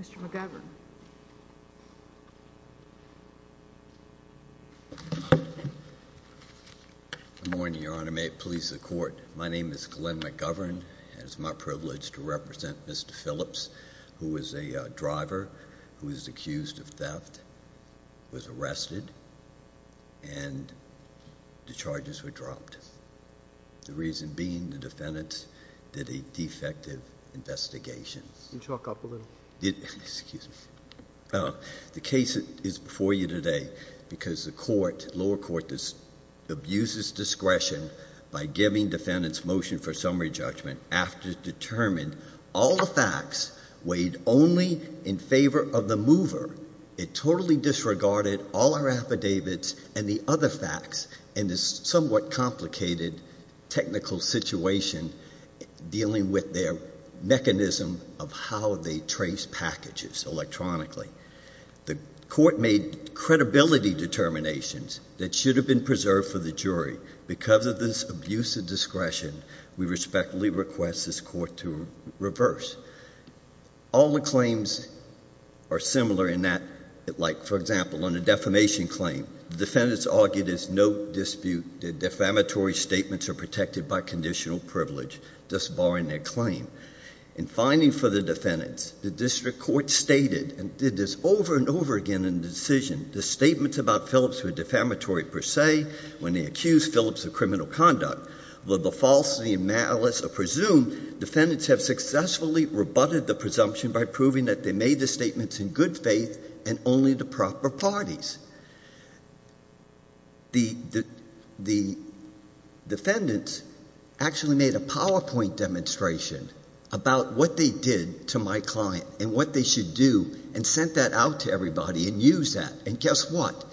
Mr. McGovern. Morning, Your Honor. May it please the court. My name is Glenn McGovern. It's my privilege to represent Mr Phillips, who is a driver who is accused of theft, was arrested and the charges were dropped. The reason being, the case is before you today because the lower court abuses discretion by giving defendants motion for summary judgment after it determined all the facts weighed only in favor of the mover. It totally disregarded all our affidavits and the other facts in this somewhat complicated technical situation dealing with their trace packages electronically. The court made credibility determinations that should have been preserved for the jury. Because of this abusive discretion, we respectfully request this court to reverse all the claims are similar in that, like, for example, on the defamation claim, defendants argued is no dispute. The defamatory statements were protected by conditional privilege, thus barring their claim. In finding for the defendants, the district court stated, and did this over and over again in the decision, the statements about Phillips were defamatory per se when they accused Phillips of criminal conduct. Were the falsity and malice are presumed, defendants have successfully rebutted the presumption by proving that they made the statements in good faith and only the proper parties. The defendants actually made a PowerPoint demonstration about what they did to my client and what they should do and sent that out to everybody and used that. And guess what?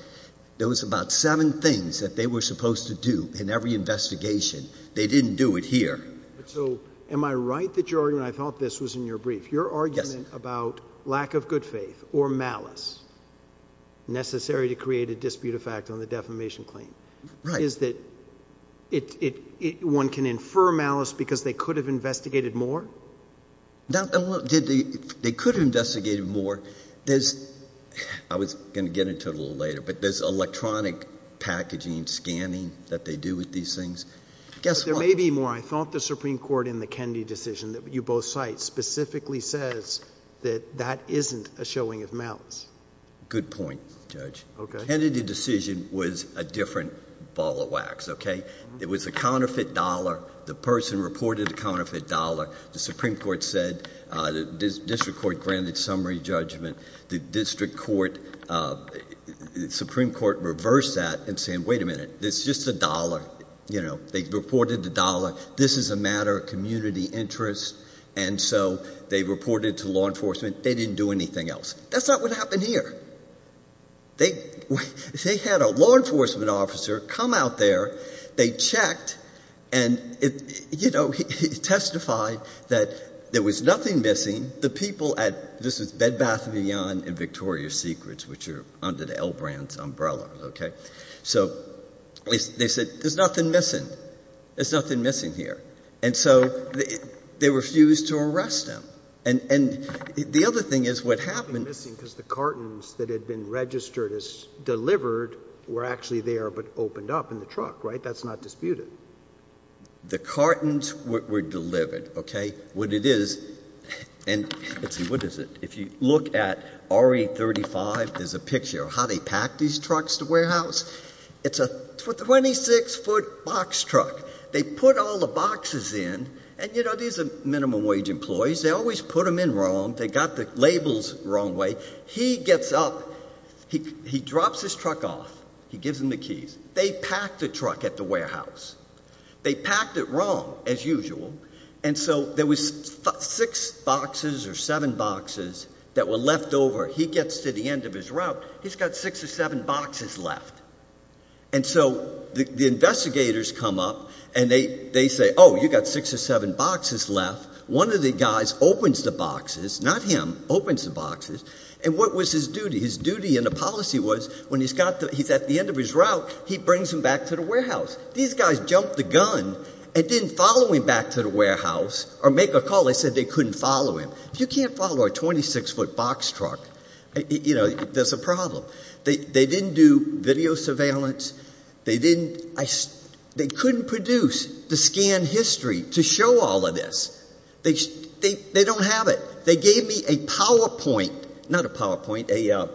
There was about seven things that they were supposed to do in every investigation. They didn't do it here. So am I right that you're and I thought this was in your brief, your argument about lack of good faith or malice necessary to create a dispute of fact on the defamation claim? Right. Is that it, it, it, one can infer malice because they could have investigated more? Now, did the, they could have investigated more. There's, I was going to get into it a little later, but there's electronic packaging scanning that they do with these things. Guess what? There may be more. I thought the Supreme Court in the Kennedy decision that you both cite specifically says that that isn't a showing of malice. Good point, Judge. Kennedy decision was a different ball of wax. Okay. It was a counterfeit dollar. The person reported the counterfeit dollar. The Supreme Court said, uh, the district court granted summary judgment. The district court, uh, Supreme Court reversed that and saying, wait a minute, this is just a dollar. You know, they reported the dollar. This is a matter of community interest. And so they reported to law enforcement. They didn't do anything else. That's not what happened here. They, they had a law enforcement officer come out there, they checked and it, you know, he testified that there was nothing missing. The people at, this is Bed Bath and Beyond and Victoria Secrets, which are under the L Brands umbrella. Okay. So they said there's nothing missing. There's nothing missing here. And so they refused to arrest him. And, and the other thing is what happened is the cartons that had been registered as delivered were actually there, but opened up in the truck, right? That's not disputed. The cartons were delivered. Okay. What it is, and let's see, what is it? If you look at RE 35, there's a picture of how they packed these trucks to warehouse. It's a 26 foot box truck. They put all the boxes in and, you know, these are minimum wage employees. They always put them in wrong. They got the labels wrong way. He gets up, he, he drops his truck off. He gives him the keys. They packed the truck at the warehouse. They packed it wrong as usual. And so there was six boxes or seven boxes that were left over. He gets to the end of his route. He's got six or seven boxes left. And so the investigators come up and they, they say, oh, you got six or seven boxes left. One of the guys opens the boxes, not him, opens the boxes. And what was his duty? His duty and the policy was when he's got the, he's at the end of his route, he brings him back to the warehouse. These guys jumped the gun and didn't follow him back to the warehouse or make a call. They said they couldn't follow him. If you can't follow a 26 foot box truck, you know, there's a problem. They, they didn't do video surveillance. They didn't, I, they couldn't produce the scan history to show all of this. They, they, they don't have it. They gave me a PowerPoint, not a PowerPoint, a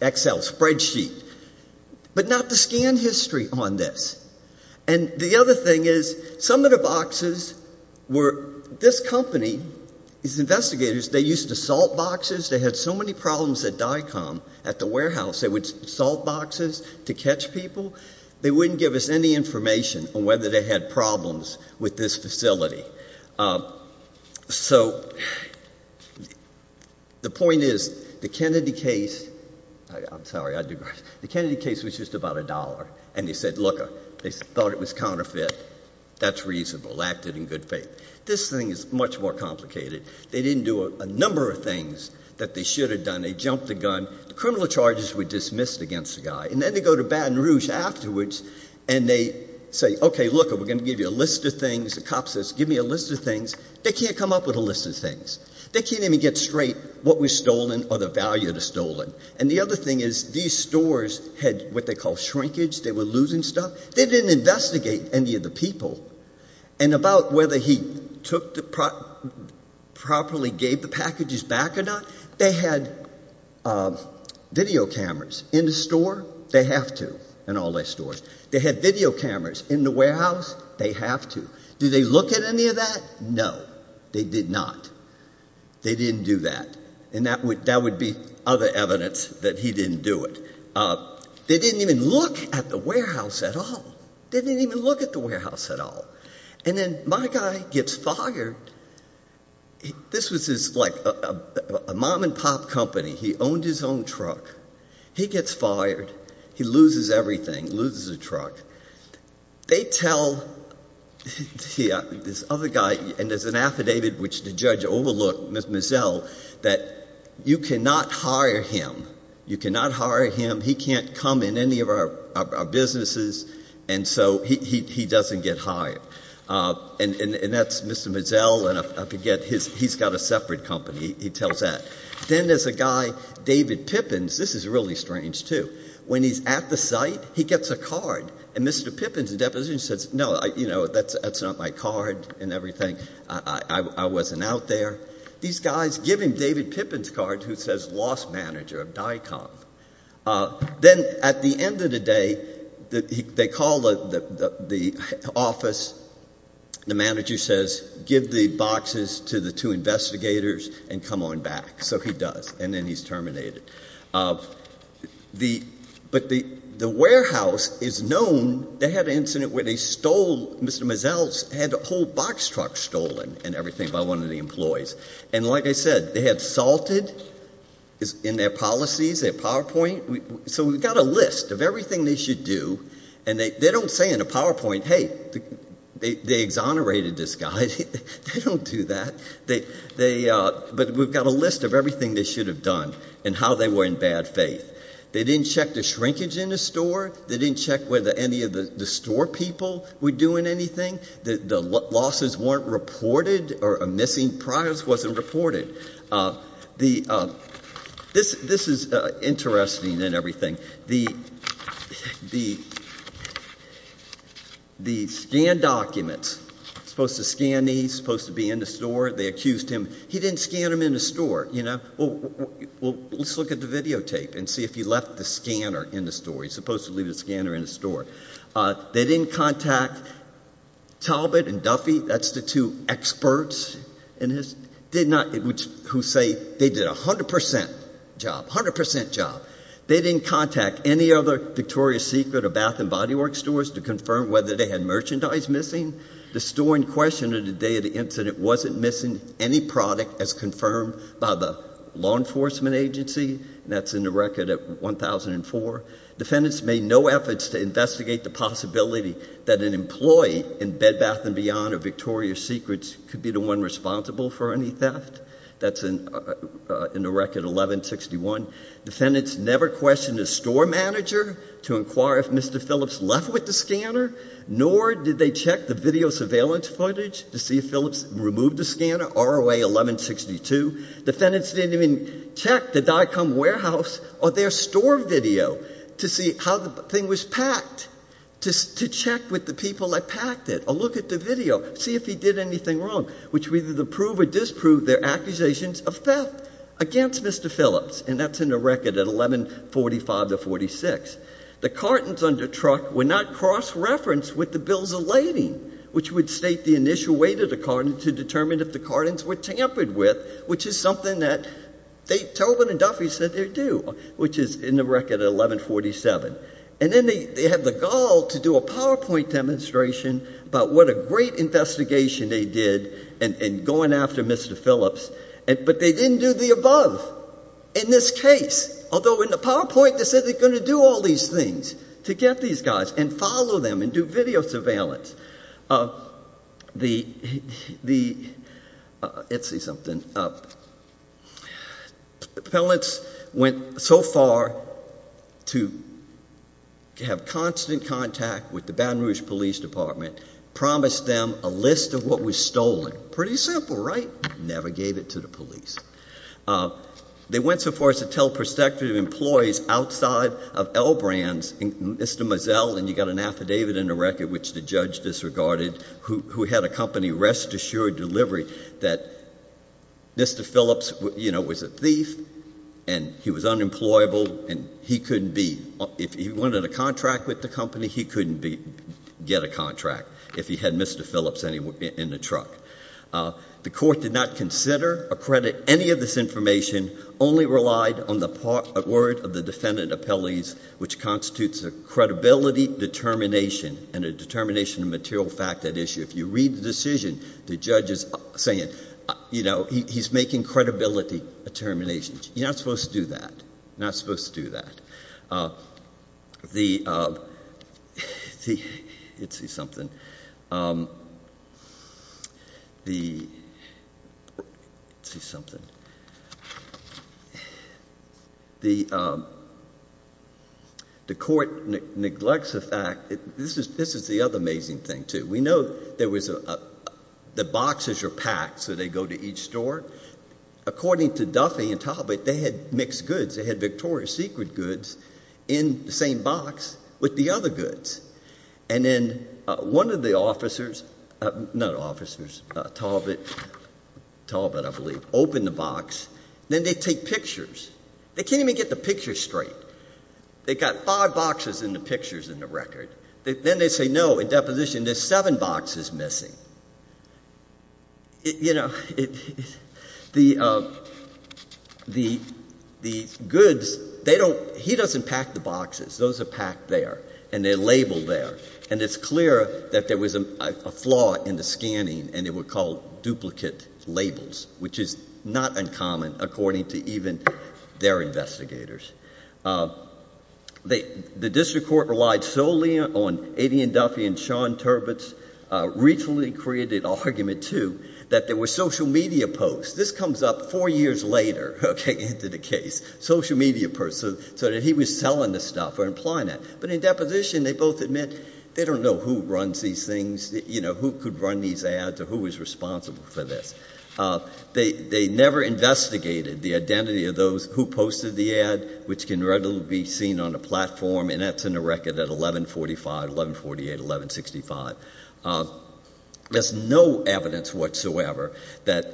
Excel spreadsheet, but not the scan history on this. And the other thing is some of the boxes were, this company, these investigators, they used to salt boxes. They had so many problems at DICOM at the warehouse. They would salt boxes to catch people. They wouldn't give us any information on whether they had problems with this facility. So the point is the Kennedy case, I'm sorry, I do grudge, the Kennedy case was just about a dollar. And they said, look, they thought it was counterfeit. That's reasonable, acted in good faith. This thing is much more complicated. They didn't do a number of things that they should have done. They jumped the gun. The criminal charges were dismissed against the guy. And then they go to Baton Rouge afterwards and they say, okay, look, we're going to give you a list of things. The cop says, give me a list of things. They can't come up with a list of things. They can't even get straight what was stolen or the value of the stolen. And the other thing is these stores had what they call shrinkage. They were losing stuff. They didn't investigate any of the people. And about whether he took the properly gave the packages back or not, they had video cameras in the store. They have to in all their stores. They had video cameras in the warehouse. They have to. Did they look at any of that? No. They did not. They didn't do that. And that would be other evidence that he didn't do it. They didn't even look at the warehouse at all. They didn't even look at the warehouse at all. And then my guy gets fired. This was like a mom and pop company. He owned his own truck. He gets fired. He loses everything. Loses the truck. They tell this other guy, and there's an affidavit which the judge overlooked, Miss Mizzell, that you cannot hire him. You can't hire him. He's got businesses. And so he doesn't get hired. And that's Mr. Mizzell. And I forget, he's got a separate company. He tells that. Then there's a guy, David Pippins, this is really strange, too. When he's at the site, he gets a card. And Mr. Pippins, the deposition says, no, that's not my card and everything. I wasn't out there. These guys give him David Pippin's card who says lost manager of DICOM. Then at the end of the day, they call the office. The manager says, give the boxes to the two investigators and come on back. So he does. And then he's terminated. But the warehouse is known. They had an incident where they stole, Mr. Mizzell's had a whole box truck stolen and everything by one of the employees. And like I said, they had salted in their list of everything they should do. And they don't say in a PowerPoint, hey, they exonerated this guy. They don't do that. But we've got a list of everything they should have done and how they were in bad faith. They didn't check the shrinkage in the store. They didn't check whether any of the store people were doing anything. The losses weren't reported or missing. Progress wasn't reported. This is interesting and everything. The scan documents, he's supposed to scan these, supposed to be in the store. They accused him. He didn't scan them in the store. Well, let's look at the videotape and see if he left the scanner in the store. He's supposed to leave the scanner in the store. They didn't contact Talbot and Hertz, who say they did 100% job, 100% job. They didn't contact any other Victoria's Secret or Bath and Body Works stores to confirm whether they had merchandise missing. The store in question on the day of the incident wasn't missing any product as confirmed by the law enforcement agency, and that's in the record at 1004. Defendants made no efforts to investigate the possibility that an employee in Bed Bath and Beyond or Victoria's Secrets could be the one responsible for any theft. That's in the record 1161. Defendants never questioned the store manager to inquire if Mr. Phillips left with the scanner, nor did they check the video surveillance footage to see if Phillips removed the scanner, ROA 1162. Defendants didn't even check the Dicom Warehouse or their store video to see how the thing was packed, to check with the people that packed it or look at the video, see if he did anything wrong, which would either prove or disprove their accusations of theft against Mr. Phillips, and that's in the record at 1145 to 46. The cartons under truck were not cross-referenced with the bills of lading, which would state the initial weight of the carton to determine if the cartons were tampered with, which is something that Tobin and Duffy said they would do, which is in the record at 1147. And then they had the gall to do a PowerPoint demonstration about what a great investigation they did in going after Mr. Phillips, but they didn't do the above in this case, although in the PowerPoint they said they were going to do all these things to get these guys and follow them and do video surveillance. Phillips went so far to have constant contact with the Baton Rouge Police Department, promised them a list of what was stolen. Pretty simple, right? Never gave it to the police. They went so far as to tell prospective employees outside of L Brands, Mr. Mazzel, and you got an affidavit in the record, which the judge disregarded, who had a company, rest assured delivery, that Mr. Phillips, you know, was a thief and he was unemployable and he couldn't be, if he wanted a contract with the company, he couldn't get a contract if he had Mr. Phillips in the truck. The court did not consider or credit any of this information, only relied on the word of the defendant appellees, which constitutes a credibility determination and a determination of material fact at issue. If you read the decision, the judge is saying, you know, he's making credibility determinations. You're not supposed to do that. You're not supposed to do that. The, let's see something. The, let's see something. The court neglects the fact, this is the other amazing thing too. We know there was, the boxes are packed, so they go to each store. According to Duffy and Talbot, they had mixed goods. They had Victoria's Secret goods in the same box with the other goods. And then one of the officers, not officers, Talbot, Talbot I believe, opened the box. Then they take pictures. They can't even get the picture straight. They got five boxes in the pictures in the record. Then they say, no, in deposition there's seven boxes missing. You know, the, the, the goods, they don't, he doesn't pack the boxes. Those are packed there. And they're labeled there. And it's clear that there was a flaw in the scanning and they were called duplicate labels, which is not uncommon according to even their investigators. They, the district court relied solely on A.D. and Duffy and Sean Talbot's recently created argument too, that there were social media posts. This comes up four years later, okay, into the case, social media posts. So, so that he was selling the stuff or implying that. But in deposition, they both admit they don't know who runs these things. You know, who could run these ads or who was responsible for this. They, they never investigated the which can readily be seen on a platform. And that's in the record at 1145, 1148, 1165. There's no evidence whatsoever that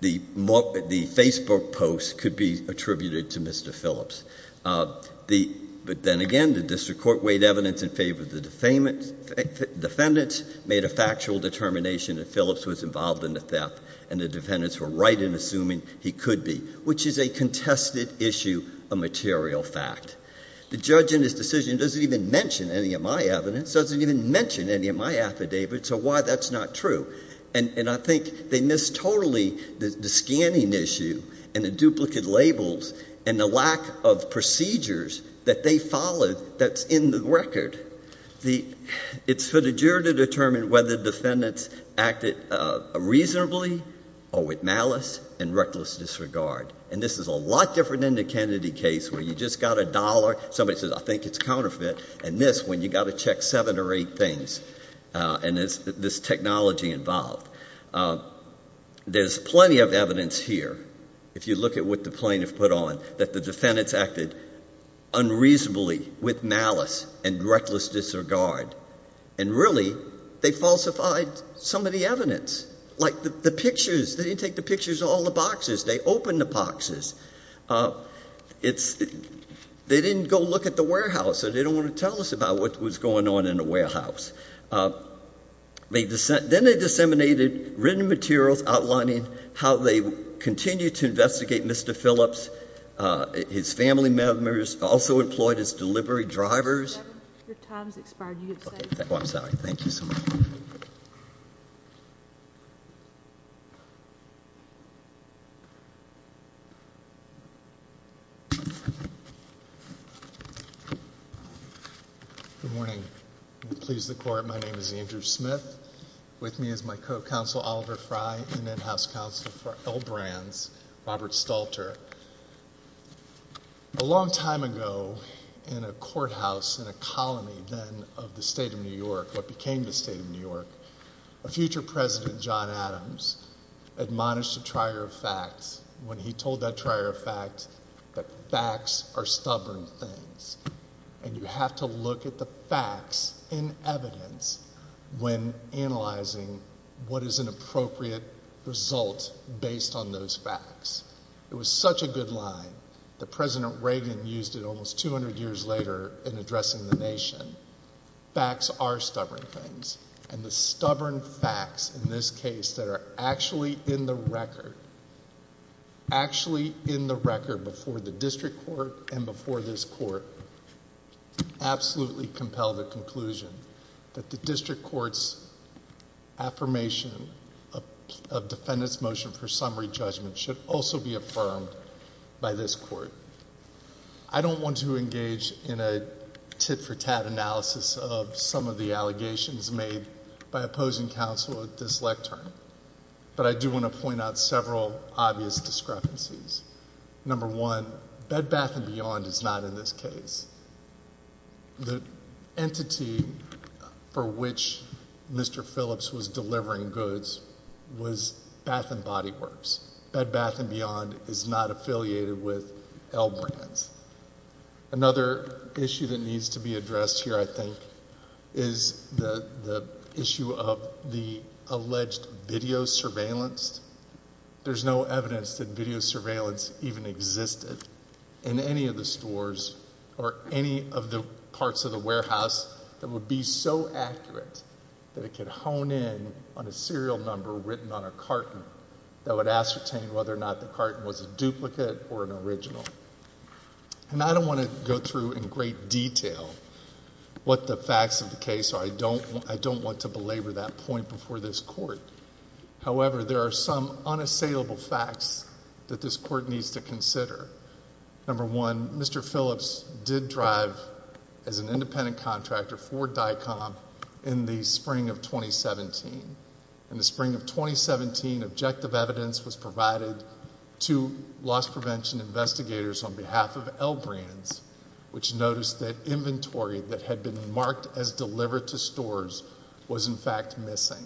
the Facebook posts could be attributed to Mr. Phillips. The, but then again, the district court weighed evidence in favor of the defamant. Defendants made a factual determination that Phillips was involved in the theft and the defendants were right in assuming he could be, which is a contested issue, a material fact. The judge in his decision doesn't even mention any of my evidence, doesn't even mention any of my affidavit. So why that's not true. And I think they missed totally the scanning issue and the duplicate labels and the lack of procedures that they followed that's in the record. The, it's for the juror to determine whether defendants acted reasonably or with malice and reckless disregard. And this is a lot different than the Kennedy case where you just got a dollar. Somebody says, I think it's counterfeit. And this, when you got to check seven or eight things and there's this technology involved. There's plenty of evidence here. If you look at what the plaintiff put on, that the defendants acted unreasonably with malice and reckless disregard. And really they falsified some of the evidence, like the pictures. They didn't take the pictures of all the boxes. They opened the boxes. It's, they didn't go look at the warehouse. So they don't want to tell us about what was going on in the warehouse. Then they disseminated written materials outlining how they continued to investigate Mr. Phillips. His family members also employed as delivery drivers. Your time's expired. You get to say something. Oh, I'm sorry. Thank you so much. Good morning. Please the court. My name is Andrew Smith. With me is my co-counsel, Oliver Frye, and in-house counsel for L Brands, Robert Stalter. A long time ago in a courthouse in a colony then of the state of New York, what became the state of New York, a future president, John Adams, admonished a trier of facts when he told that trier of facts that facts are stubborn things. And you have to look at the facts in evidence when analyzing what is an appropriate result based on those facts. It was such a good line that President Reagan used it almost 200 years later in addressing the nation. Facts are stubborn things. And the stubborn facts in this case that are actually in the record, actually in the record before the district court and before this court, absolutely compel the conclusion that the district court's affirmation of defendant's motion for summary judgment should also be affirmed by this court. I don't want to engage in a tit-for-tat analysis of some of the allegations made by opposing counsel at this lectern, but I do want to point out several obvious discrepancies. Number one, Bed Bath and Beyond is not in this case. The entity for which Mr. Phillips was delivering goods was Bath and Body Works. Bed Bath and Beyond is not affiliated with L Brands. Another issue that needs to be addressed here, I think, is the issue of the alleged video surveillance. There's no evidence that video surveillance even existed in any of the stores or any of the parts of the warehouse that would be so accurate that it could hone in on a serial number written on a carton that would ascertain whether or not the carton was a duplicate or an original. And I don't want to go through in great detail what the facts of the case are. I don't want to labor that point before this court. However, there are some unassailable facts that this court needs to consider. Number one, Mr. Phillips did drive as an independent contractor for DICOM in the spring of 2017. In the spring of 2017, objective evidence was provided to loss prevention investigators on behalf of L Brands, which noticed that inventory that had been marked as delivered to stores was in fact missing.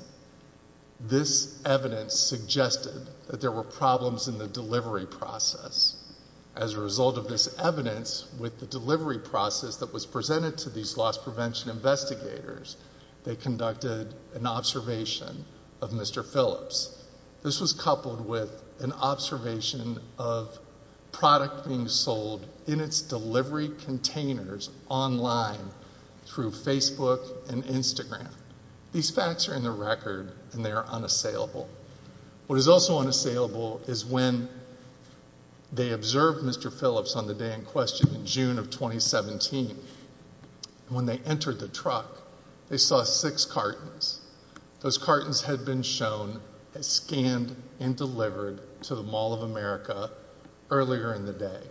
This evidence suggested that there were problems in the delivery process. As a result of this evidence with the delivery process that was presented to these loss prevention investigators, they conducted an observation of Mr. Phillips. This was coupled with an observation of product being sold in its delivery containers online through Facebook and Instagram. These facts are in the record and they are unassailable. What is also unassailable is when they observed Mr. Phillips on the day in question in June of 2017. When they entered the truck, they saw six cartons. Those cartons had been shown, had scanned and delivered to the Mall of America earlier in the day.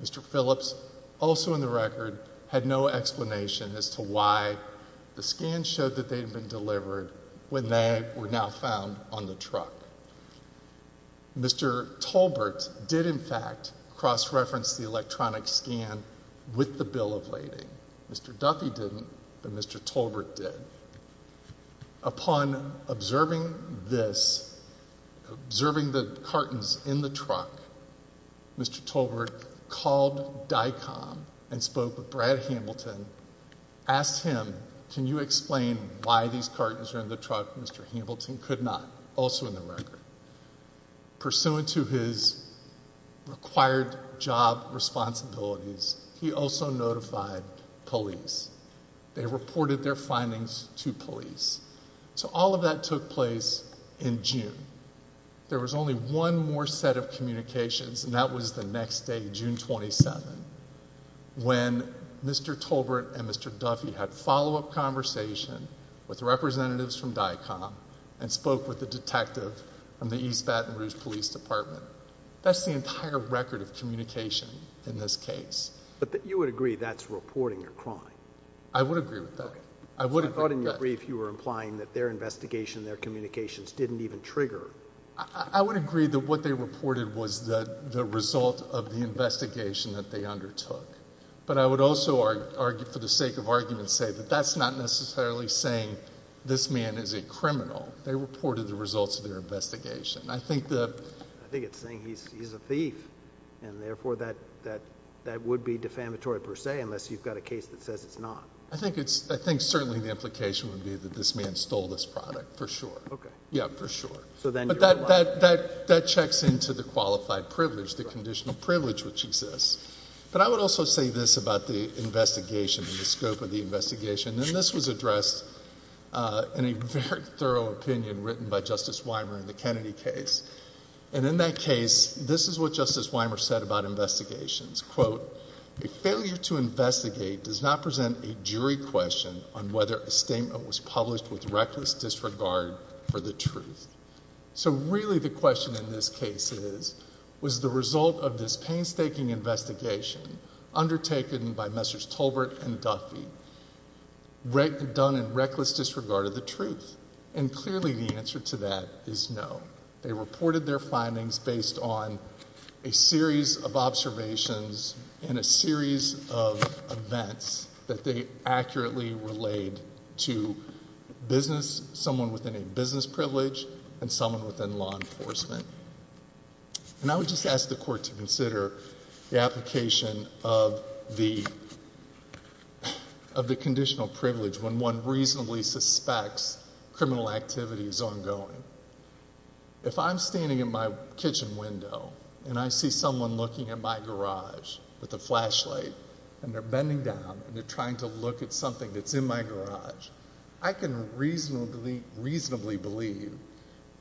Mr. Phillips, also in the record, had no explanation as to why the scan showed that they had been delivered when they were now found on the truck. Mr. Tolbert did, in fact, cross-reference the electronic scan with the bill of lading. Mr. Duffy didn't, but Mr. Tolbert did. Upon observing this, observing the cartons in the truck, Mr. Tolbert called DICOM and spoke with Brad Hamilton, asked him, can you explain why these cartons are in the truck? Mr. Hamilton could not, also in the record. Pursuant to his required job responsibilities, he also notified police. They reported their findings to police. All of that took place in June. There was only one more set of communications and that was the next day, June 27, when Mr. Tolbert and Mr. Duffy had follow-up conversation with representatives from DICOM and spoke with the detective from the East Baton Rouge Police Department. That's the entire record of communication in this case. But you would agree that's reporting a crime? I would agree with that. I thought in your brief you were implying that their investigation, their communications, didn't even trigger. I would agree that what they reported was the result of the investigation that they undertook, but I would also, for the sake of argument, say that that's not necessarily saying this man is a criminal. They reported the results of their investigation. Therefore, that would be defamatory, per se, unless you've got a case that says it's not. I think certainly the implication would be that this man stole this product, for sure. That checks into the qualified privilege, the conditional privilege which exists. But I would also say this about the investigation and the scope of the investigation. This was addressed in a very thorough opinion written by Justice Wymer in the Kennedy case. In that case, this is what Justice Wymer said about investigations. Quote, a failure to investigate does not present a jury question on whether a statement was published with reckless disregard for the truth. So really the question in this case is, was the result of this painstaking investigation undertaken by Messrs. Tolbert and Duffy done in reckless disregard of the truth? And clearly the answer to that is no. They reported their findings based on a series of observations and a series of events that they accurately relayed to business, someone within a business privilege, and someone within law enforcement. And I would just ask the Court to is ongoing. If I'm standing in my kitchen window and I see someone looking at my garage with a flashlight and they're bending down and they're trying to look at something that's in my garage, I can reasonably believe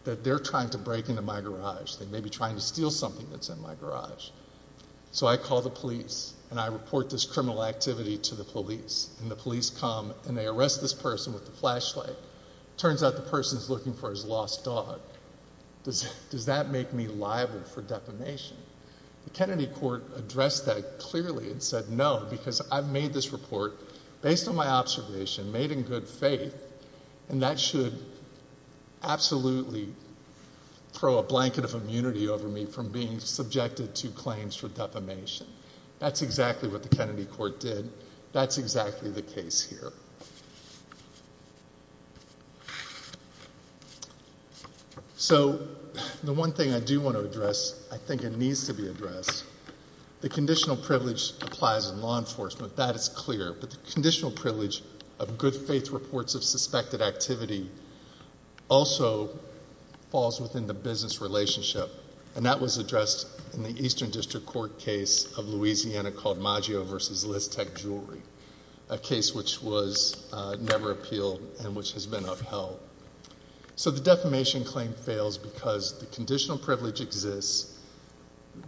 that they're trying to break into my garage. They may be trying to steal something that's in my garage. So I call the police and I report this criminal activity to the police. And the police come and they arrest this person with the flashlight. Turns out the person's looking for his lost dog. Does that make me liable for defamation? The Kennedy Court addressed that clearly and said no, because I've made this report based on my observation, made in good faith, and that should absolutely throw a blanket of immunity over me from being subjected to claims for defamation. That's exactly what the Kennedy Court did. That's exactly the case here. So the one thing I do want to address, I think it needs to be addressed, the conditional privilege applies in law enforcement. That is clear. But the conditional privilege of good faith reports of suspected activity also falls within the business relationship. And that was addressed in the Eastern District Court case of Louisiana called Maggio versus Listek Jewelry, a case which was never appealed and which has been upheld. So the defamation claim fails because the conditional privilege exists.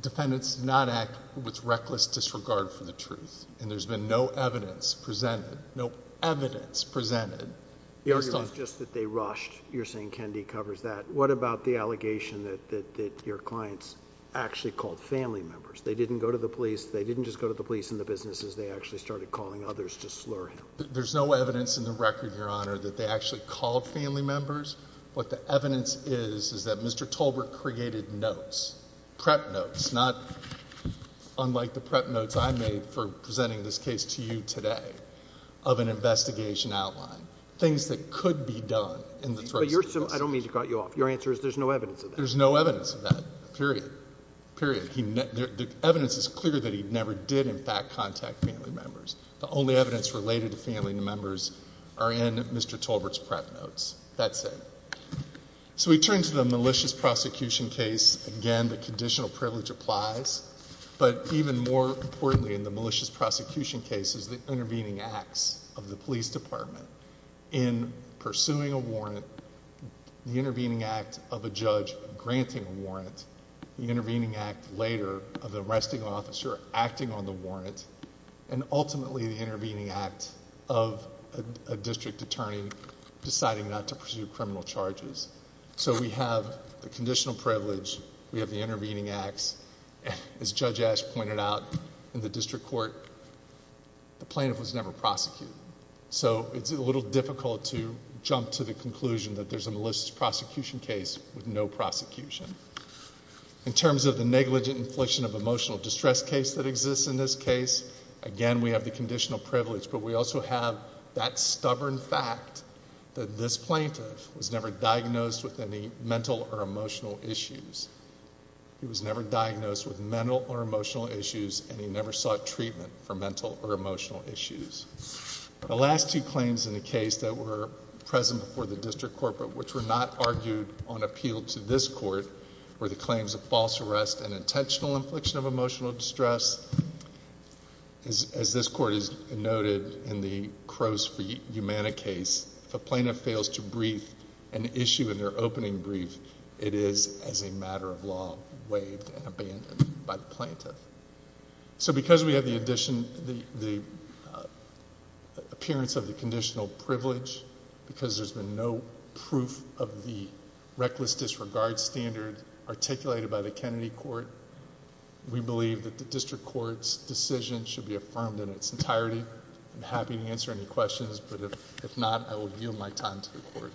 Defendants did not act with reckless disregard for the truth. And there's been no evidence presented, no evidence presented. The argument is just that they rushed. You're saying Kennedy covers that. What about the allegation that your clients actually called family members? They didn't go to the police, they didn't just go to the police and the businesses, they actually started calling others to slur him. There's no evidence in the record, Your Honor, that they actually called family members. What the evidence is, is that Mr. Tolbert created notes, prep notes, not unlike the prep notes I made for presenting this case to you today of an investigation outline, things that could be done. But I don't mean to cut you off. Your answer is there's no evidence of that. There's no evidence. The evidence is clear that he never did in fact contact family members. The only evidence related to family members are in Mr. Tolbert's prep notes. That's it. So we turn to the malicious prosecution case. Again, the conditional privilege applies. But even more importantly in the malicious prosecution case is the intervening acts of the police department in pursuing a warrant, the intervening act of a judge granting a warrant, the intervening act later of the arresting officer acting on the warrant, and ultimately the intervening act of a district attorney deciding not to pursue criminal charges. So we have the conditional privilege. We have the intervening acts. As Judge Ash pointed out in the district court, the plaintiff was never prosecuted. So it's a little difficult to jump to the conclusion that there's a malicious prosecution case with no prosecution. In terms of the negligent infliction of emotional distress case that exists in this case, again, we have the conditional privilege. But we also have that stubborn fact that this plaintiff was never diagnosed with any mental or emotional issues. He was never diagnosed with mental or emotional issues, and he never sought treatment for mental or emotional issues. The last two claims in the district court, which were not argued on appeal to this court, were the claims of false arrest and intentional infliction of emotional distress. As this court has noted in the Crose v. Umana case, if a plaintiff fails to brief an issue in their opening brief, it is as a matter of law waived and abandoned by the plaintiff. So because we have the appearance of the proof of the reckless disregard standard articulated by the Kennedy court, we believe that the district court's decision should be affirmed in its entirety. I'm happy to answer any questions, but if not, I will yield my time to the court.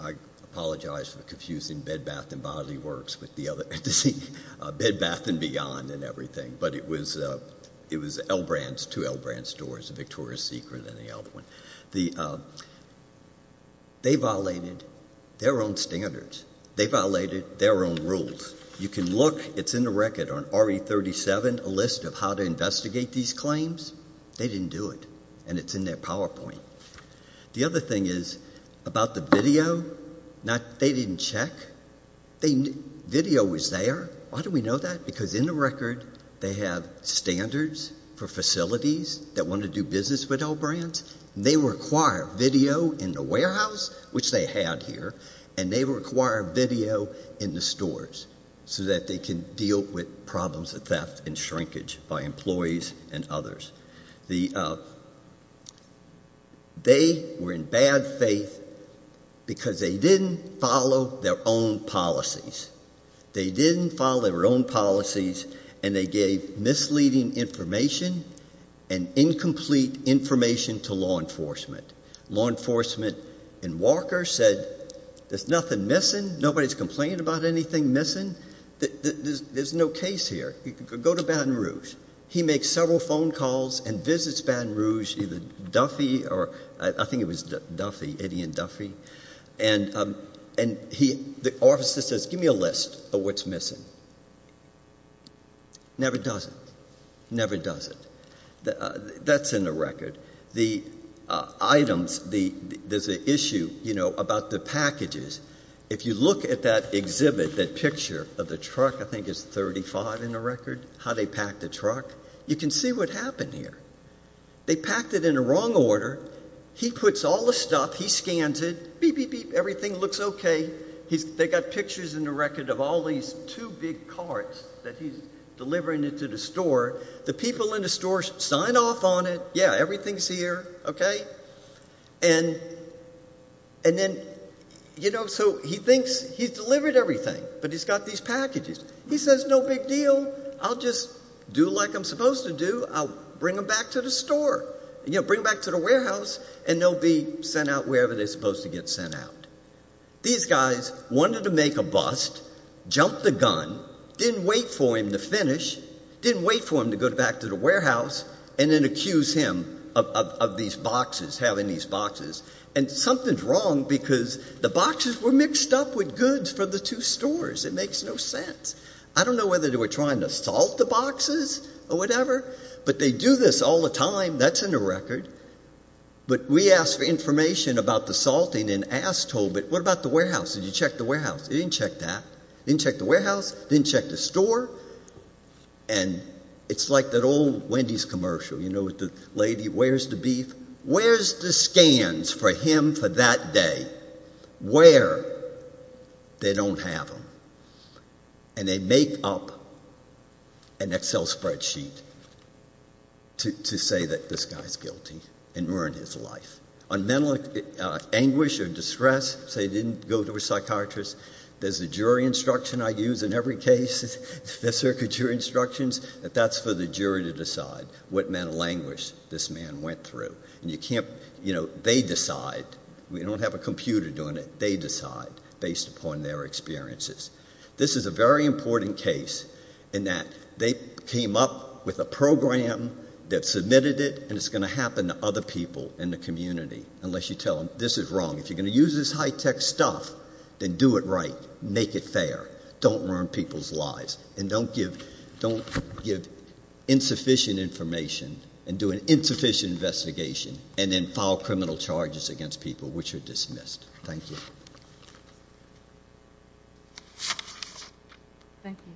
I apologize for the confusing bed, bath, and bodily works with the other, bed, bath, and beyond and everything, but it was L Brands, two L Brands stores, Victoria's Secret and the other one. They violated their own standards. They violated their own rules. You can look, it's in the record on RE 37, a list of how to investigate these claims. They didn't do it, and it's in their PowerPoint. The other thing is about the video, they didn't check. Video was there. Why do we know that? Because in the record, they have standards for facilities that want to do business with L Brands, and they require video in the warehouse, which they had here, and they require video in the stores so that they can deal with problems of theft and shrinkage by employees and others. They were in bad faith because they didn't follow their own policies. They didn't follow their own policies, and they gave misleading information and incomplete information to law enforcement. Law enforcement in Walker said, there's nothing missing. Nobody's complaining about anything missing. There's no case here. You could go to Baton Rouge. He makes several phone calls and visits Baton Rouge, either Duffy, or I think it was Duffy, Eddie and Duffy, and the officer says, give me a list of what's missing. Never does it. Never does it. That's in the record. The items, there's an issue, you know, about the packages. If you look at that exhibit, that picture of the truck, I think it's 35 in the record, how they packed the truck, you can see what happened here. They packed it in the wrong order. He puts all the stuff, he scans it, beep, beep, beep, everything looks okay. They got pictures in the big carts that he's delivering it to the store. The people in the store sign off on it. Yeah, everything's here, okay, and then, you know, so he thinks he's delivered everything, but he's got these packages. He says, no big deal. I'll just do like I'm supposed to do. I'll bring them back to the store, you know, bring back to the warehouse, and they'll be sent out wherever they're supposed to get sent out. These guys wanted to make a bust, jumped the gun, didn't wait for him to finish, didn't wait for him to go back to the warehouse, and then accuse him of these boxes, having these boxes, and something's wrong because the boxes were mixed up with goods from the two stores. It makes no sense. I don't know whether they were trying to salt the boxes or whatever, but they do this all the time. That's in the record, but we asked for information about the salting and asked Tobit, what about the warehouse? Did you check the warehouse? He didn't check that. He didn't check the warehouse, didn't check the store, and it's like that old Wendy's commercial, you know, with the lady, where's the beef? Where's the scans for him for that day? Where? They don't have them, and they make up an Excel spreadsheet to say that this guy's guilty and ruined his life. On mental anguish or distress, say he didn't go to a psychiatrist, there's a jury instruction I use in every case, the circuit jury instructions, that that's for the jury to decide what mental anguish this man went through, and you can't, you know, they decide. We don't have a computer doing it. They decide based upon their experiences. This is a very important case in that they came up with a program that submitted it, and it's going to happen to other people in the community unless you tell them this is wrong. If you're going to use this high-tech stuff, then do it right. Make it fair. Don't ruin people's lives, and don't give insufficient information and do an insufficient investigation, and then file criminal charges against people which are dismissed. Thank you. Thank you.